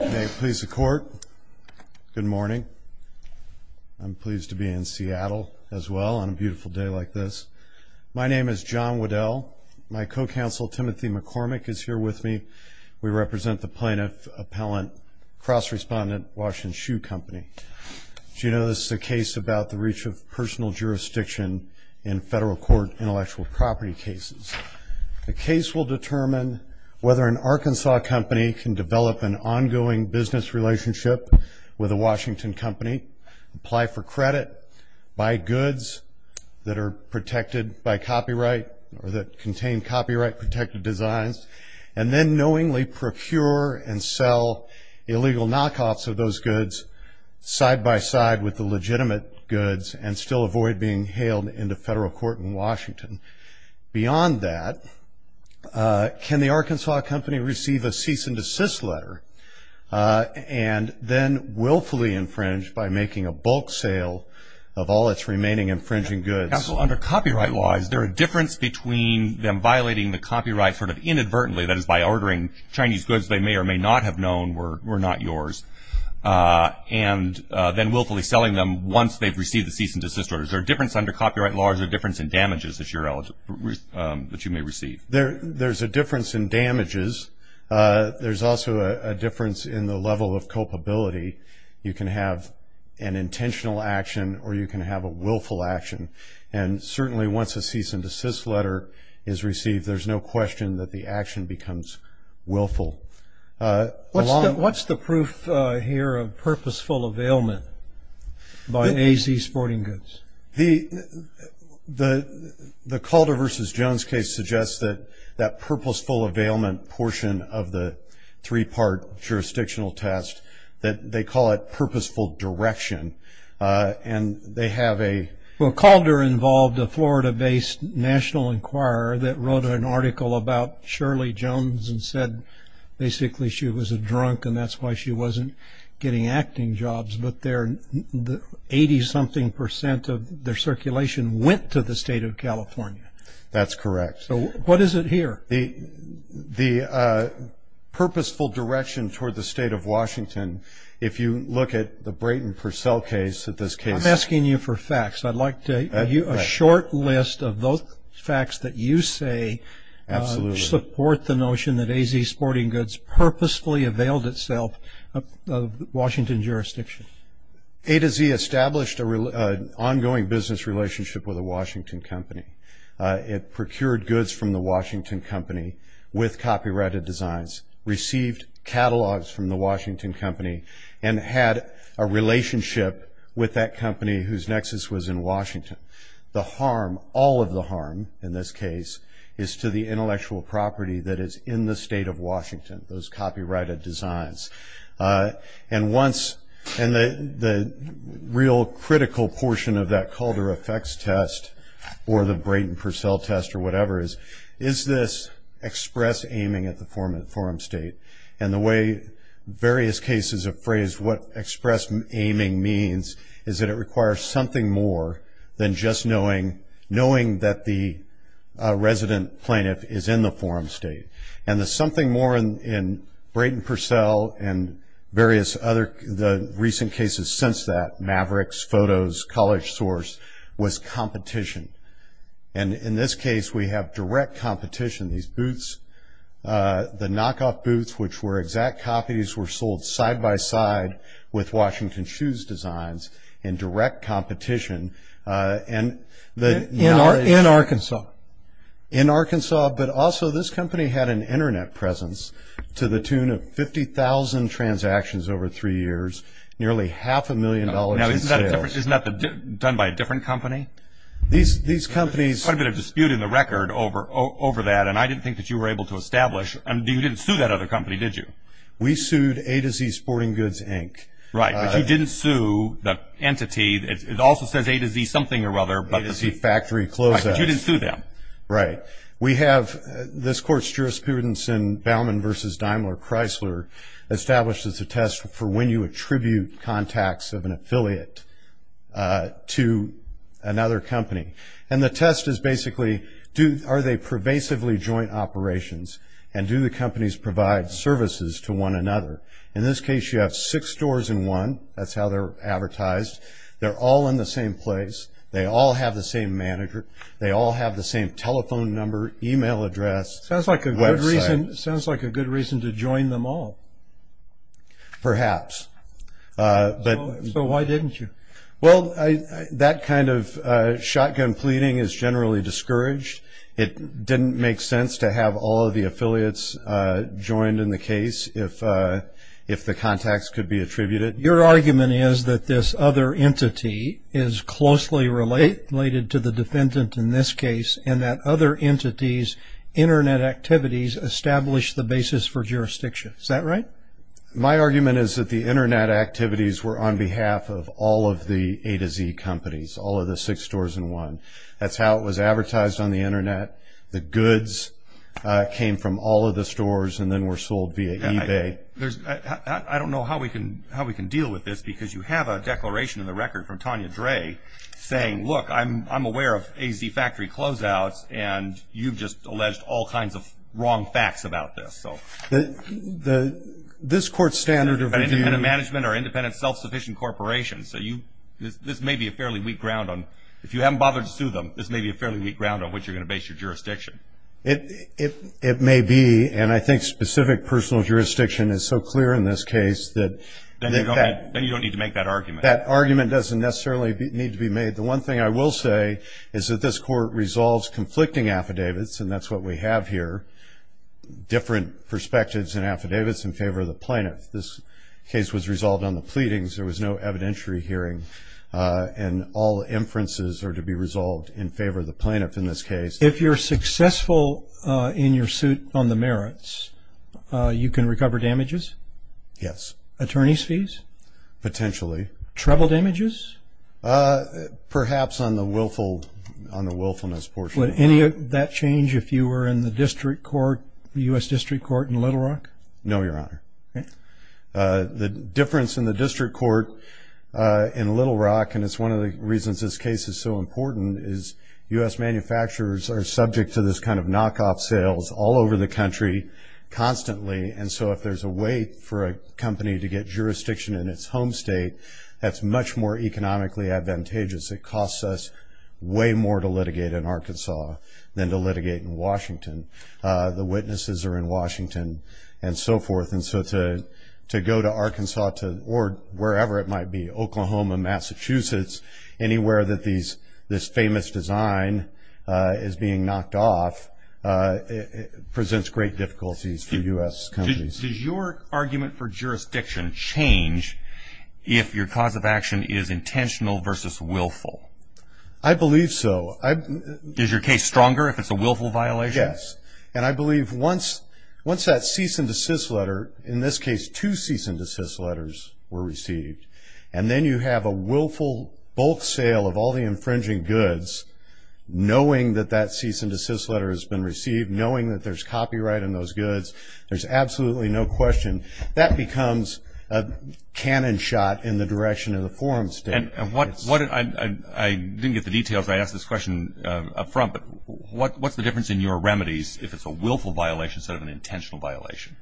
May it please the Court, good morning. I'm pleased to be in Seattle as well on a beautiful day like this. My name is John Waddell. My co-counsel, Timothy McCormick, is here with me. We represent the plaintiff-appellant cross-respondent, Washington Shoe Company. As you know, this is a case about the reach of personal jurisdiction in federal court intellectual property cases. The case will determine whether an Arkansas company can develop an ongoing business relationship with a Washington company, apply for credit, buy goods that are protected by copyright or that contain copyright-protected designs, and then knowingly procure and sell illegal knockoffs of those goods side by side with the legitimate goods and still avoid being hailed into federal court in Washington. Beyond that, can the Arkansas company receive a cease-and-desist letter and then willfully infringe by making a bulk sale of all its remaining infringing goods? Under copyright law, is there a difference between them violating the copyright sort of inadvertently, that is by ordering Chinese goods they may or may not have known were not yours, and then willfully selling them once they've received the cease-and-desist order? Is there a difference under copyright law? Is there a difference in damages that you may receive? There's a difference in damages. There's also a difference in the level of culpability. You can have an intentional action or you can have a willful action. And certainly once a cease-and-desist letter is received, there's no question that the action becomes willful. What's the proof here of purposeful availment by AZ Sporting Goods? The Calder v. Jones case suggests that that purposeful availment portion of the three-part jurisdictional test, that they call it purposeful direction, and they have a- Well, Calder involved a Florida-based national inquirer that wrote an article about Shirley Jones and said basically she was a drunk and that's why she wasn't getting acting jobs, but 80-something percent of their circulation went to the state of California. That's correct. So what is it here? The purposeful direction toward the state of Washington, if you look at the Brayton Purcell case, in this case- I'm asking you for facts. I'd like to give you a short list of those facts that you say support the notion that AZ Sporting Goods purposefully availed itself of Washington jurisdiction. A to Z established an ongoing business relationship with a Washington company. It procured goods from the Washington company with copyrighted designs, received catalogs from the Washington company, and had a relationship with that company whose nexus was in Washington. The harm, all of the harm in this case, is to the intellectual property that is in the state of Washington, those copyrighted designs. And the real critical portion of that Calder effects test or the Brayton Purcell test or whatever is, is this express aiming at the forum state? And the way various cases have phrased what express aiming means is that it requires something more than just knowing that the resident plaintiff is in the forum state. And the something more in Brayton Purcell and various other-the recent cases since that, Mavericks, Photos, College Source, was competition. And in this case, we have direct competition. These booths, the knockoff booths, which were exact copies, were sold side by side with Washington shoes designs in direct competition. In Arkansas? In Arkansas, but also this company had an Internet presence to the tune of 50,000 transactions over three years, nearly half a million dollars in sales. Now, isn't that done by a different company? These companies- And I didn't think that you were able to establish- You didn't sue that other company, did you? We sued A to Z Sporting Goods, Inc. Right, but you didn't sue the entity. It also says A to Z something or other, but- A to Z Factory Clothes. Right, but you didn't sue them. Right. We have this court's jurisprudence in Baumann v. Daimler Chrysler established as a test for when you attribute contacts of an affiliate to another company. And the test is basically are they pervasively joint operations and do the companies provide services to one another? In this case, you have six stores in one. That's how they're advertised. They're all in the same place. They all have the same manager. They all have the same telephone number, email address, website. Sounds like a good reason to join them all. Perhaps. So why didn't you? Well, that kind of shotgun pleading is generally discouraged. It didn't make sense to have all of the affiliates joined in the case if the contacts could be attributed. Your argument is that this other entity is closely related to the defendant in this case and that other entities' Internet activities establish the basis for jurisdiction. Is that right? My argument is that the Internet activities were on behalf of all of the A to Z companies, all of the six stores in one. That's how it was advertised on the Internet. The goods came from all of the stores and then were sold via eBay. I don't know how we can deal with this because you have a declaration in the record from Tanya Dre saying, look, I'm aware of A to Z factory closeouts, and you've just alleged all kinds of wrong facts about this. This Court's standard of review... Independent management or independent self-sufficient corporations. This may be a fairly weak ground. If you haven't bothered to sue them, this may be a fairly weak ground on which you're going to base your jurisdiction. It may be, and I think specific personal jurisdiction is so clear in this case that... Then you don't need to make that argument. That argument doesn't necessarily need to be made. The one thing I will say is that this Court resolves conflicting affidavits, and that's what we have here, different perspectives and affidavits in favor of the plaintiff. This case was resolved on the pleadings. There was no evidentiary hearing, and all inferences are to be resolved in favor of the plaintiff in this case. If you're successful in your suit on the merits, you can recover damages? Yes. Attorney's fees? Potentially. Treble damages? Perhaps on the willfulness portion. Would any of that change if you were in the district court, the U.S. District Court in Little Rock? No, Your Honor. The difference in the district court in Little Rock, and it's one of the reasons this case is so important, is U.S. manufacturers are subject to this kind of knockoff sales all over the country constantly, and so if there's a way for a company to get jurisdiction in its home state, that's much more economically advantageous. It costs us way more to litigate in Arkansas than to litigate in Washington. The witnesses are in Washington and so forth, and so to go to Arkansas or wherever it might be, Oklahoma, Massachusetts, anywhere that this famous design is being knocked off presents great difficulties for U.S. companies. Does your argument for jurisdiction change if your cause of action is intentional versus willful? I believe so. Is your case stronger if it's a willful violation? Yes, and I believe once that cease and desist letter, in this case, two cease and desist letters were received, and then you have a willful bulk sale of all the infringing goods, knowing that that cease and desist letter has been received, knowing that there's copyright on those goods, there's absolutely no question that becomes a cannon shot in the direction of the forum state. I didn't get the details. I asked this question up front, but what's the difference in your remedies if it's a willful violation instead of an intentional violation?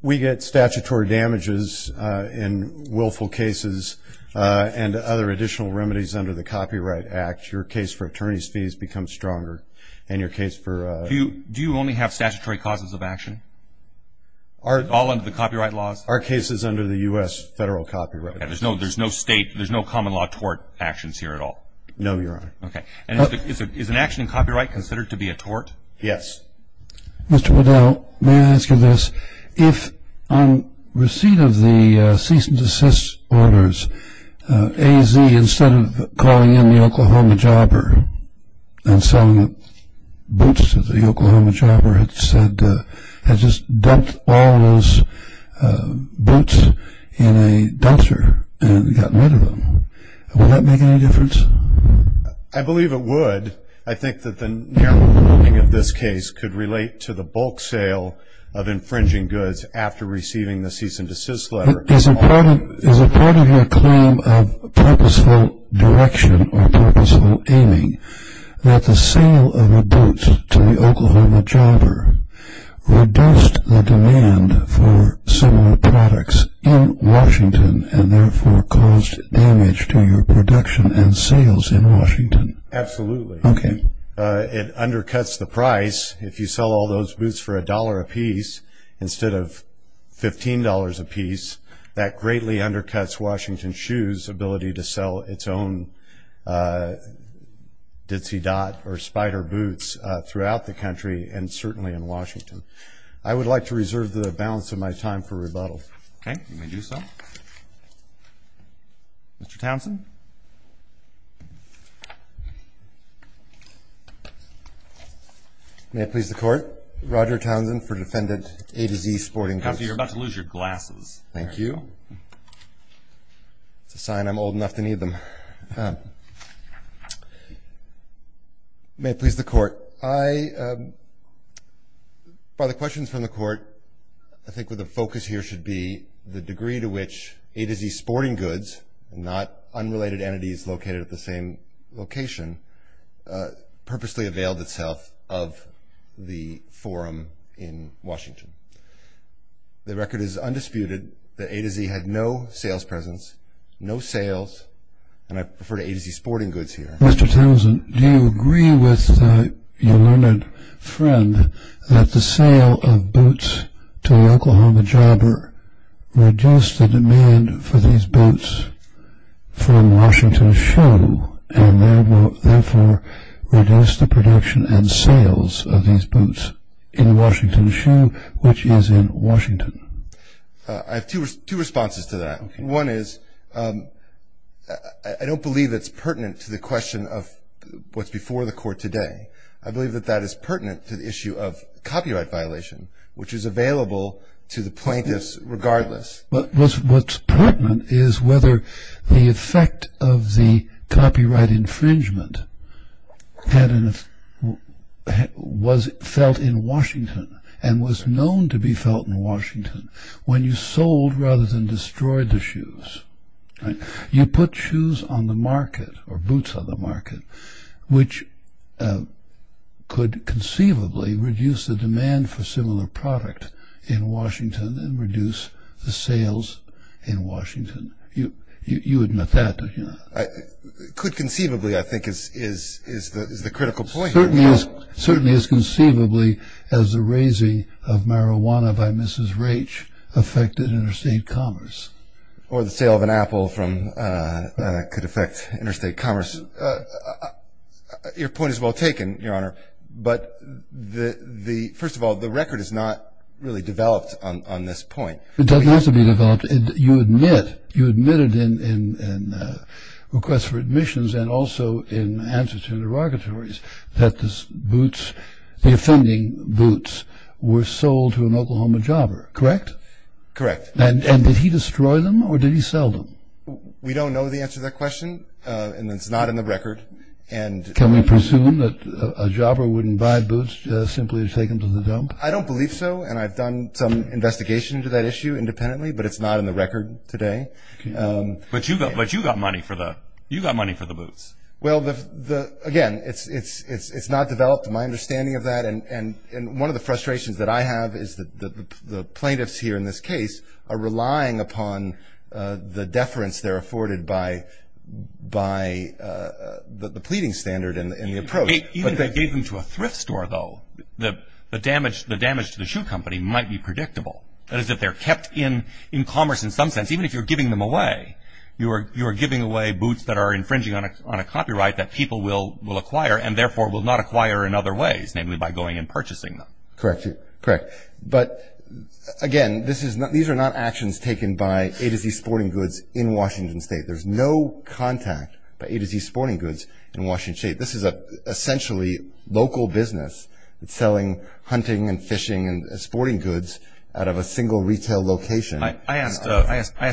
We get statutory damages in willful cases and other additional remedies under the Copyright Act. Your case for attorney's fees becomes stronger. Do you only have statutory causes of action, all under the copyright laws? Our case is under the U.S. Federal Copyright Act. There's no state, there's no common law tort actions here at all? No, Your Honor. Okay. Is an action in copyright considered to be a tort? Yes. Mr. Waddell, may I ask you this? If on receipt of the cease and desist orders, AZ, instead of calling in the Oklahoma jobber and selling boots to the Oklahoma jobber, had just dumped all those boots in a dumpster and gotten rid of them, would that make any difference? I believe it would. I think that the narrowing of this case could relate to the bulk sale of infringing goods after receiving the cease and desist letter. Is a part of your claim of purposeful direction or purposeful aiming that the sale of the boots to the Oklahoma jobber reduced the demand for similar products in Washington and therefore caused damage to your production and sales in Washington? Absolutely. Okay. It undercuts the price. If you sell all those boots for $1 apiece instead of $15 apiece, that greatly undercuts Washington Shoes' ability to sell its own ditzy dot or spider boots throughout the country and certainly in Washington. I would like to reserve the balance of my time for rebuttal. Okay. You may do so. Mr. Townsend? May it please the Court? Roger Townsend for Defendant A to Z Sporting Goods. Counselor, you're about to lose your glasses. Thank you. It's a sign I'm old enough to need them. May it please the Court? By the questions from the Court, I think what the focus here should be the degree to which A to Z Sporting Goods, not unrelated entities located at the same location, purposely availed itself of the forum in Washington. The record is undisputed that A to Z had no sales presence, no sales, and I prefer to A to Z Sporting Goods here. Mr. Townsend, do you agree with your learned friend that the sale of boots to Oklahoma Jobber reduced the demand for these boots from Washington Shoe and therefore reduced the production and sales of these boots in Washington Shoe, which is in Washington? I have two responses to that. Okay. One is I don't believe it's pertinent to the question of what's before the Court today. I believe that that is pertinent to the issue of copyright violation, which is available to the plaintiffs regardless. What's pertinent is whether the effect of the copyright infringement was felt in Washington and was known to be felt in Washington when you sold rather than destroyed the shoes. You put shoes on the market or boots on the market, which could conceivably reduce the demand for similar product in Washington and reduce the sales in Washington. You would admit that, don't you? Could conceivably, I think, is the critical point. Certainly as conceivably as the raising of marijuana by Mrs. Raich affected interstate commerce. Or the sale of an apple could affect interstate commerce. Your point is well taken, Your Honor. But first of all, the record is not really developed on this point. It doesn't have to be developed. You admitted in requests for admissions and also in answers to interrogatories that the offending boots were sold to an Oklahoma jobber, correct? Correct. And did he destroy them or did he sell them? We don't know the answer to that question, and it's not in the record. Can we presume that a jobber wouldn't buy boots simply to take them to the dump? I don't believe so, and I've done some investigation into that issue independently, but it's not in the record today. But you got money for the boots. Well, again, it's not developed, my understanding of that. And one of the frustrations that I have is that the plaintiffs here in this case are relying upon the deference they're afforded by the pleading standard and the approach. Even if they gave them to a thrift store, though, the damage to the shoe company might be predictable. That is, if they're kept in commerce in some sense, even if you're giving them away, you are giving away boots that are infringing on a copyright that people will acquire and therefore will not acquire in other ways, namely by going and purchasing them. Correct. But, again, these are not actions taken by A to Z sporting goods in Washington State. There's no contact by A to Z sporting goods in Washington State. This is essentially local business. It's selling hunting and fishing and sporting goods out of a single retail location. I asked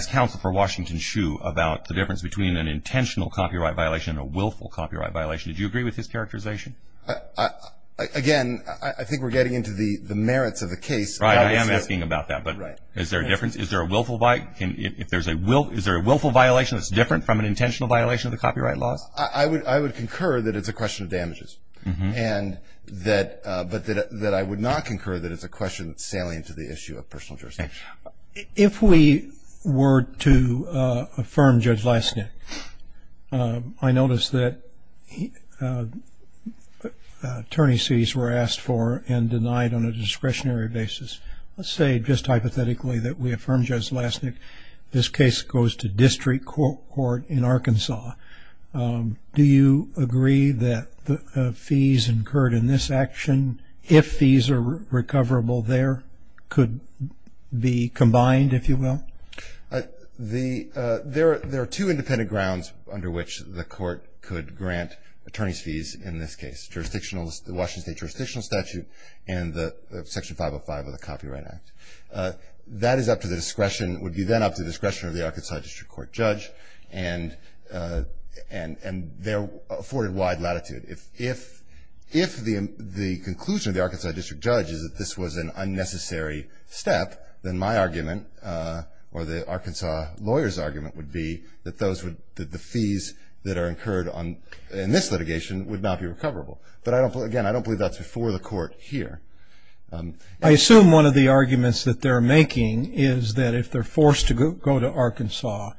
counsel for Washington Shoe about the difference between an intentional copyright violation and a willful copyright violation. Did you agree with his characterization? Again, I think we're getting into the merits of the case. Right. I am asking about that. But is there a difference? Is there a willful violation that's different from an intentional violation of the copyright laws? I would concur that it's a question of damages, but that I would not concur that it's a question that's salient to the issue of personal jurisdiction. If we were to affirm Judge Lasnik, I notice that attorneys' fees were asked for and denied on a discretionary basis. Let's say, just hypothetically, that we affirm Judge Lasnik. This case goes to district court in Arkansas. Do you agree that the fees incurred in this action, if fees are recoverable there, could be combined, if you will? There are two independent grounds under which the court could grant attorneys' fees in this case, the Washington State jurisdictional statute and Section 505 of the Copyright Act. That is up to the discretion, would be then up to the discretion of the Arkansas district court judge, and they're afforded wide latitude. If the conclusion of the Arkansas district judge is that this was an unnecessary step, then my argument, or the Arkansas lawyer's argument, would be that the fees that are incurred in this litigation would not be recoverable. But, again, I don't believe that's before the court here. I assume one of the arguments that they're making is that if they're forced to go to Arkansas,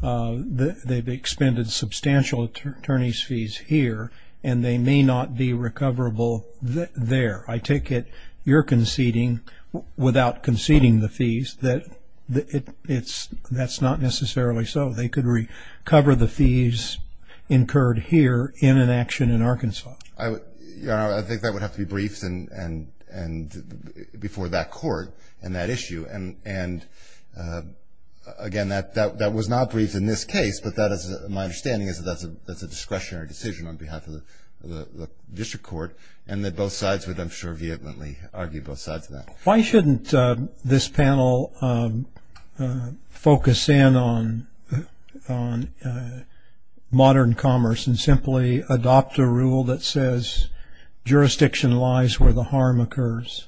they've expended substantial attorneys' fees here, and they may not be recoverable there. I take it you're conceding, without conceding the fees, that that's not necessarily so. They could recover the fees incurred here in an action in Arkansas. I think that would have to be briefed before that court in that issue. And, again, that was not briefed in this case, but my understanding is that that's a discretionary decision on behalf of the district court, and that both sides would, I'm sure, vehemently argue both sides of that. Why shouldn't this panel focus in on modern commerce and simply adopt a rule that says jurisdiction lies where the harm occurs?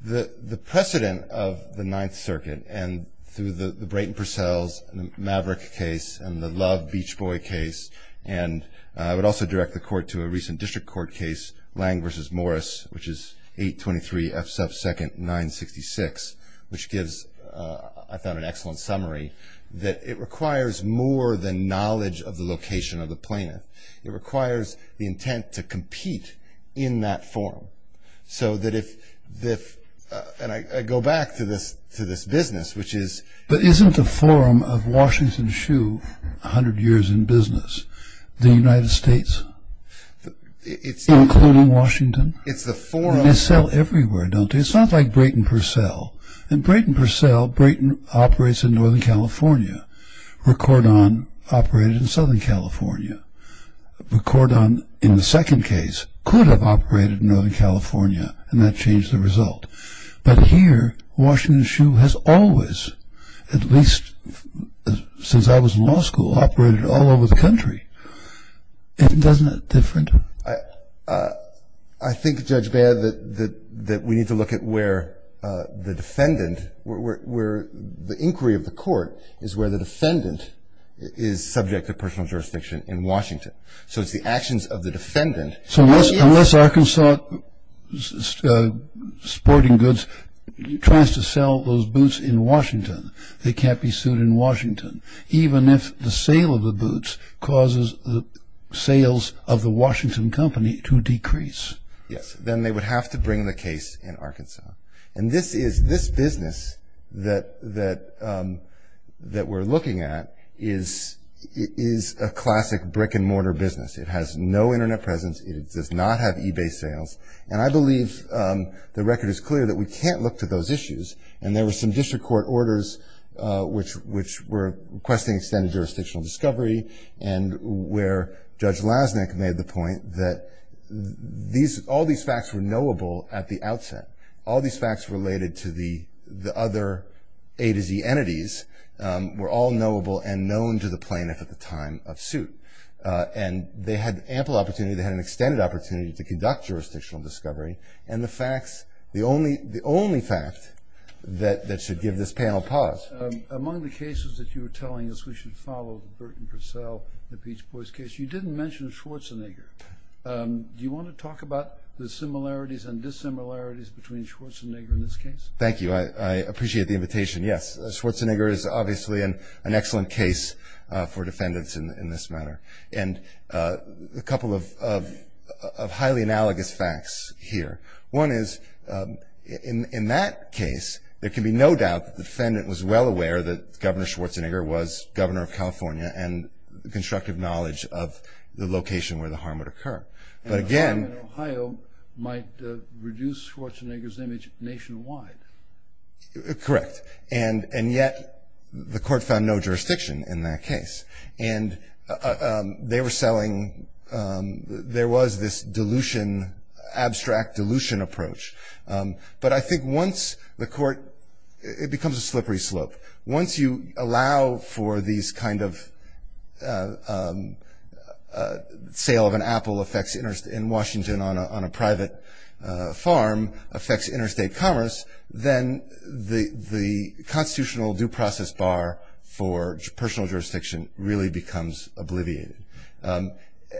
The precedent of the Ninth Circuit, and through the Brayton Purcells, and the Maverick case, and the Love Beach Boy case, and I would also direct the court to a recent district court case, Lang v. Morris, which is 823 F. Sub. 2nd. 966, which gives, I found an excellent summary, that it requires more than knowledge of the location of the plaintiff. It requires the intent to compete in that forum. So that if, and I go back to this business, which is- But isn't the forum of Washington Shoe 100 years in business? The United States? Including Washington? It's the forum- They sell everywhere, don't they? It's not like Brayton Purcell. In Brayton Purcell, Brayton operates in Northern California. Recordon operated in Southern California. Recordon, in the second case, could have operated in Northern California, and that changed the result. But here, Washington Shoe has always, at least since I was in law school, operated all over the country. And doesn't it differ? I think, Judge Baird, that we need to look at where the defendant, where the inquiry of the court is where the defendant is subject to personal jurisdiction in Washington. So it's the actions of the defendant- So unless Arkansas Sporting Goods tries to sell those boots in Washington, they can't be sued in Washington. Even if the sale of the boots causes the sales of the Washington company to decrease. Yes. Then they would have to bring the case in Arkansas. And this business that we're looking at is a classic brick-and-mortar business. It has no Internet presence. It does not have eBay sales. And I believe the record is clear that we can't look to those issues. And there were some district court orders, which were requesting extended jurisdictional discovery, and where Judge Lasnik made the point that all these facts were knowable at the outset. All these facts related to the other A to Z entities were all knowable and known to the plaintiff at the time of suit. And they had ample opportunity. They had an extended opportunity to conduct jurisdictional discovery. And the facts, the only fact that should give this panel pause- Among the cases that you were telling us we should follow, Burt and Purcell, the Beach Boys case, you didn't mention Schwarzenegger. Do you want to talk about the similarities and dissimilarities between Schwarzenegger and this case? Thank you. I appreciate the invitation. Yes. Schwarzenegger is obviously an excellent case for defendants in this matter. And a couple of highly analogous facts here. One is, in that case, there can be no doubt that the defendant was well aware that Governor Schwarzenegger was governor of California and constructive knowledge of the location where the harm would occur. But again- The harm in Ohio might reduce Schwarzenegger's image nationwide. Correct. And yet the court found no jurisdiction in that case. And they were selling- There was this dilution, abstract dilution approach. But I think once the court- It becomes a slippery slope. Once you allow for these kind of- Sale of an apple affects- In Washington on a private farm affects interstate commerce, then the constitutional due process bar for personal jurisdiction really becomes obliviated.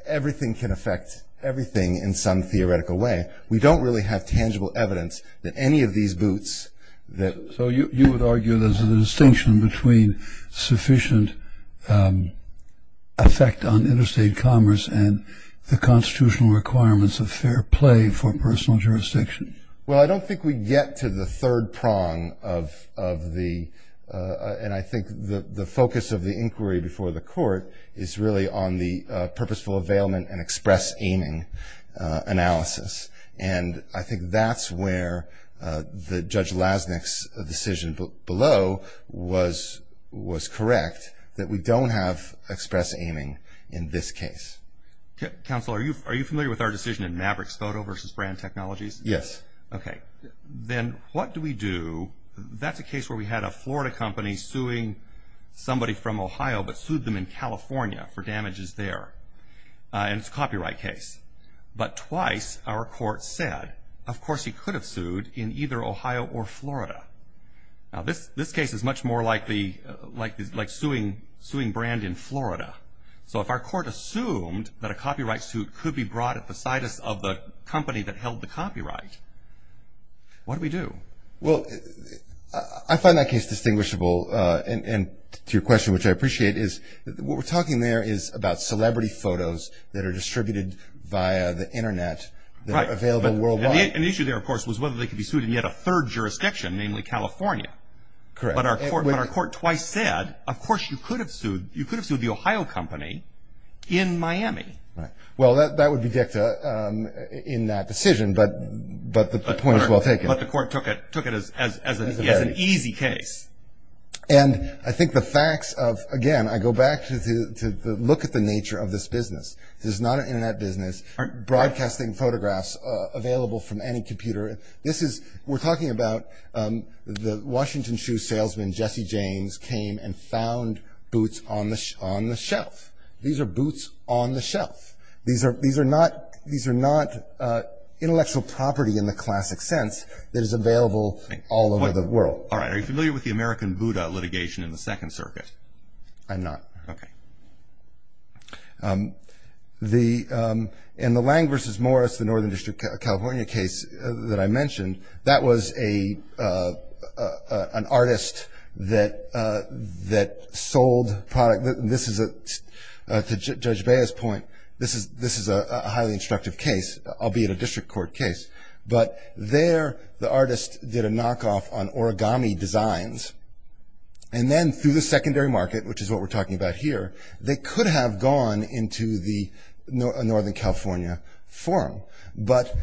Everything can affect everything in some theoretical way. We don't really have tangible evidence that any of these boots- So you would argue there's a distinction between sufficient effect on interstate commerce and the constitutional requirements of fair play for personal jurisdiction. Well, I don't think we get to the third prong of the- And I think the focus of the inquiry before the court is really on the purposeful availment and express aiming analysis. And I think that's where the Judge Lasnik's decision below was correct, that we don't have express aiming in this case. Counsel, are you familiar with our decision in Maverick's photo versus brand technologies? Yes. Okay. Then what do we do- That's a case where we had a Florida company suing somebody from Ohio, but sued them in California for damages there. And it's a copyright case. But twice our court said, of course, he could have sued in either Ohio or Florida. Now, this case is much more like suing brand in Florida. So if our court assumed that a copyright suit could be brought at the company that held the copyright, what do we do? Well, I find that case distinguishable. And to your question, which I appreciate, is what we're talking there is about celebrity photos that are distributed via the Internet that are available worldwide. Right. And the issue there, of course, was whether they could be sued in yet a third jurisdiction, namely California. Correct. But our court twice said, of course, you could have sued the Ohio company in Miami. Right. Well, that would be dicta in that decision, but the point is well taken. But the court took it as an easy case. And I think the facts of, again, I go back to look at the nature of this business. This is not an Internet business. Broadcasting photographs available from any computer. We're talking about the Washington shoe salesman, Jesse James, came and found boots on the shelf. These are boots on the shelf. These are not intellectual property in the classic sense that is available all over the world. All right. Are you familiar with the American Buddha litigation in the Second Circuit? I'm not. Okay. In the Lang versus Morris, the Northern District of California case that I mentioned, that was an artist that sold product. To Judge Baez's point, this is a highly instructive case, albeit a district court case. But there the artist did a knockoff on origami designs. And then through the secondary market, which is what we're talking about here, they could have gone into the Northern California forum, but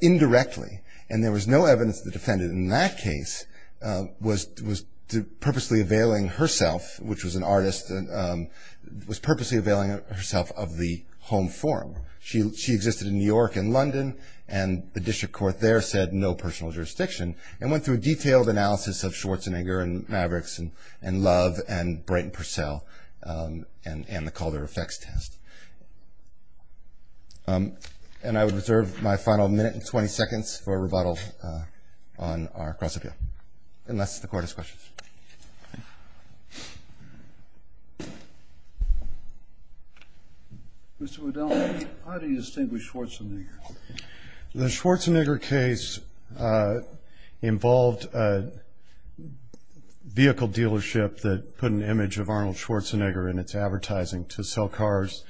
indirectly. And there was no evidence the defendant in that case was purposely availing herself, which was an artist, was purposely availing herself of the home forum. She existed in New York and London, and the district court there said no personal jurisdiction and went through a detailed analysis of Schwarzenegger and Mavericks and Love and Brayton Purcell and the Calder effects test. And I would reserve my final minute and 20 seconds for a rebuttal on our cross-appeal. Unless the court has questions. Mr. Waddell, how do you distinguish Schwarzenegger? The Schwarzenegger case involved a vehicle dealership that put an image of Arnold Schwarzenegger in its advertising to sell cars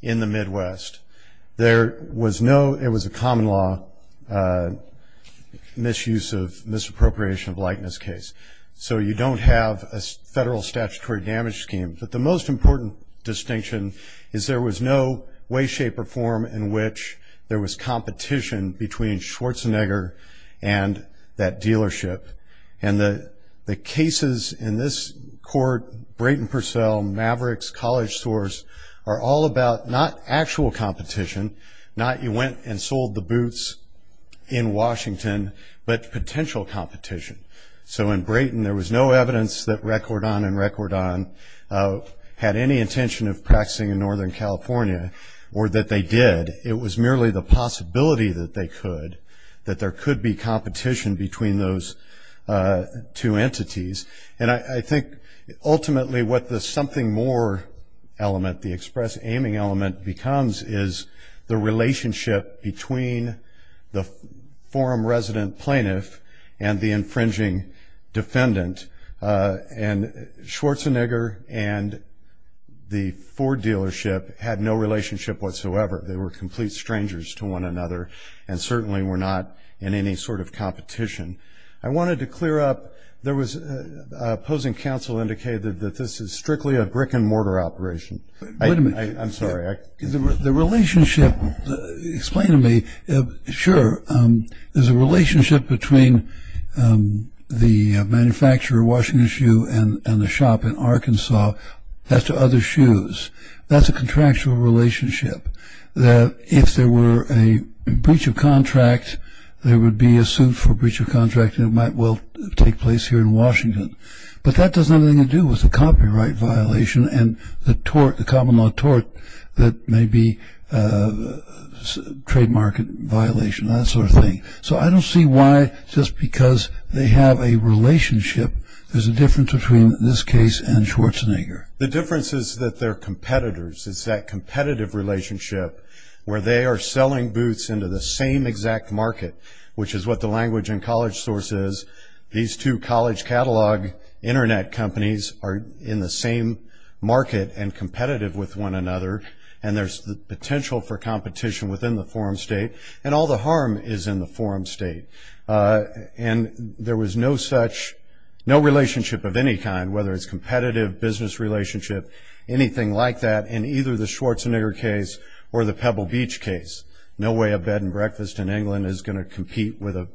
in the Midwest. There was no, it was a common law misuse of, misappropriation of likeness case. So you don't have a federal statutory damage scheme. But the most important distinction is there was no way, shape, or form in which there was competition between Schwarzenegger and that dealership. And the cases in this court, Brayton Purcell, Mavericks, College Source, are all about not actual competition, not you went and sold the boots in Washington, but potential competition. So in Brayton there was no evidence that Record On and Record On had any intention of practicing in Northern California, or that they did. It was merely the possibility that they could, that there could be competition between those two entities. And I think ultimately what the something more element, the express aiming element becomes, is the relationship between the forum resident plaintiff and the infringing defendant. And Schwarzenegger and the Ford dealership had no relationship whatsoever. They were complete strangers to one another and certainly were not in any sort of competition. I wanted to clear up, there was opposing counsel indicated that this is strictly a brick and mortar operation. Wait a minute. I'm sorry. The relationship, explain to me. Sure, there's a relationship between the manufacturer, Washington Shoe, and the shop in Arkansas. That's to other shoes. That's a contractual relationship. That if there were a breach of contract, there would be a suit for breach of contract and it might well take place here in Washington. But that doesn't have anything to do with the copyright violation and the tort, the common law tort, that may be a trade market violation, that sort of thing. So I don't see why just because they have a relationship, there's a difference between this case and Schwarzenegger. The difference is that they're competitors. It's that competitive relationship where they are selling boots into the same exact market, which is what the language and college source is. These two college catalog Internet companies are in the same market and competitive with one another, and there's the potential for competition within the forum state, and all the harm is in the forum state. And there was no such, no relationship of any kind, whether it's competitive, business relationship, anything like that, in either the Schwarzenegger case or the Pebble Beach case. No way a Bed and Breakfast in England is going to compete with a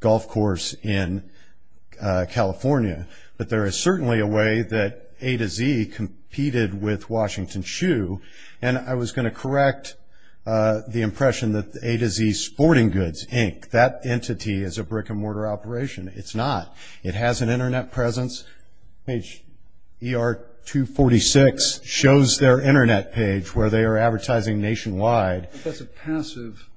golf course in California. But there is certainly a way that A to Z competed with Washington Shoe, and I was going to correct the impression that A to Z Sporting Goods, Inc., that entity is a brick-and-mortar operation. It's not. It has an Internet presence. Page ER-246 shows their Internet page where they are advertising nationwide. But that's a passive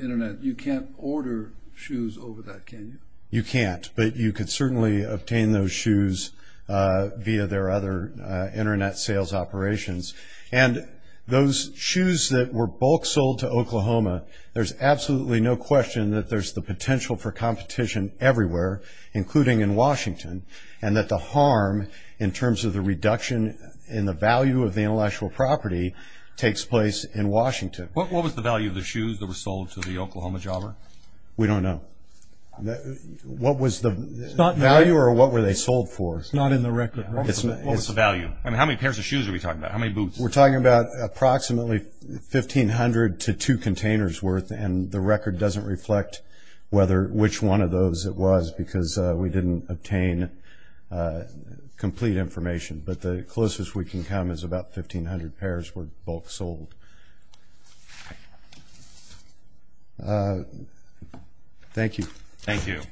Internet. You can't order shoes over that, can you? You can't, but you could certainly obtain those shoes via their other Internet sales operations. And those shoes that were bulk sold to Oklahoma, there's absolutely no question that there's the potential for competition everywhere, including in Washington, and that the harm, in terms of the reduction in the value of the intellectual property, takes place in Washington. What was the value of the shoes that were sold to the Oklahoma jobber? We don't know. What was the value or what were they sold for? It's not in the record. What was the value? I mean, how many pairs of shoes are we talking about? How many boots? We're talking about approximately 1,500 to two containers' worth, and the record doesn't reflect which one of those it was because we didn't obtain complete information. But the closest we can come is about 1,500 pairs were bulk sold. Thank you. Thank you.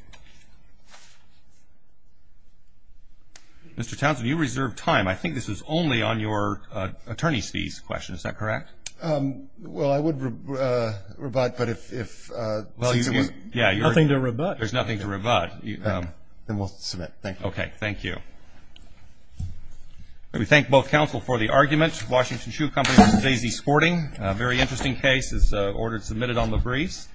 Mr. Townsend, you reserved time. I think this was only on your attorney's fees question. Is that correct? Well, I would rebut, but if it's nothing to rebut. There's nothing to rebut. Then we'll submit. Thank you. Okay. Thank you. We thank both counsel for the argument. Washington Shoe Company, Stacey Sporting. A very interesting case is ordered submitted on the briefs.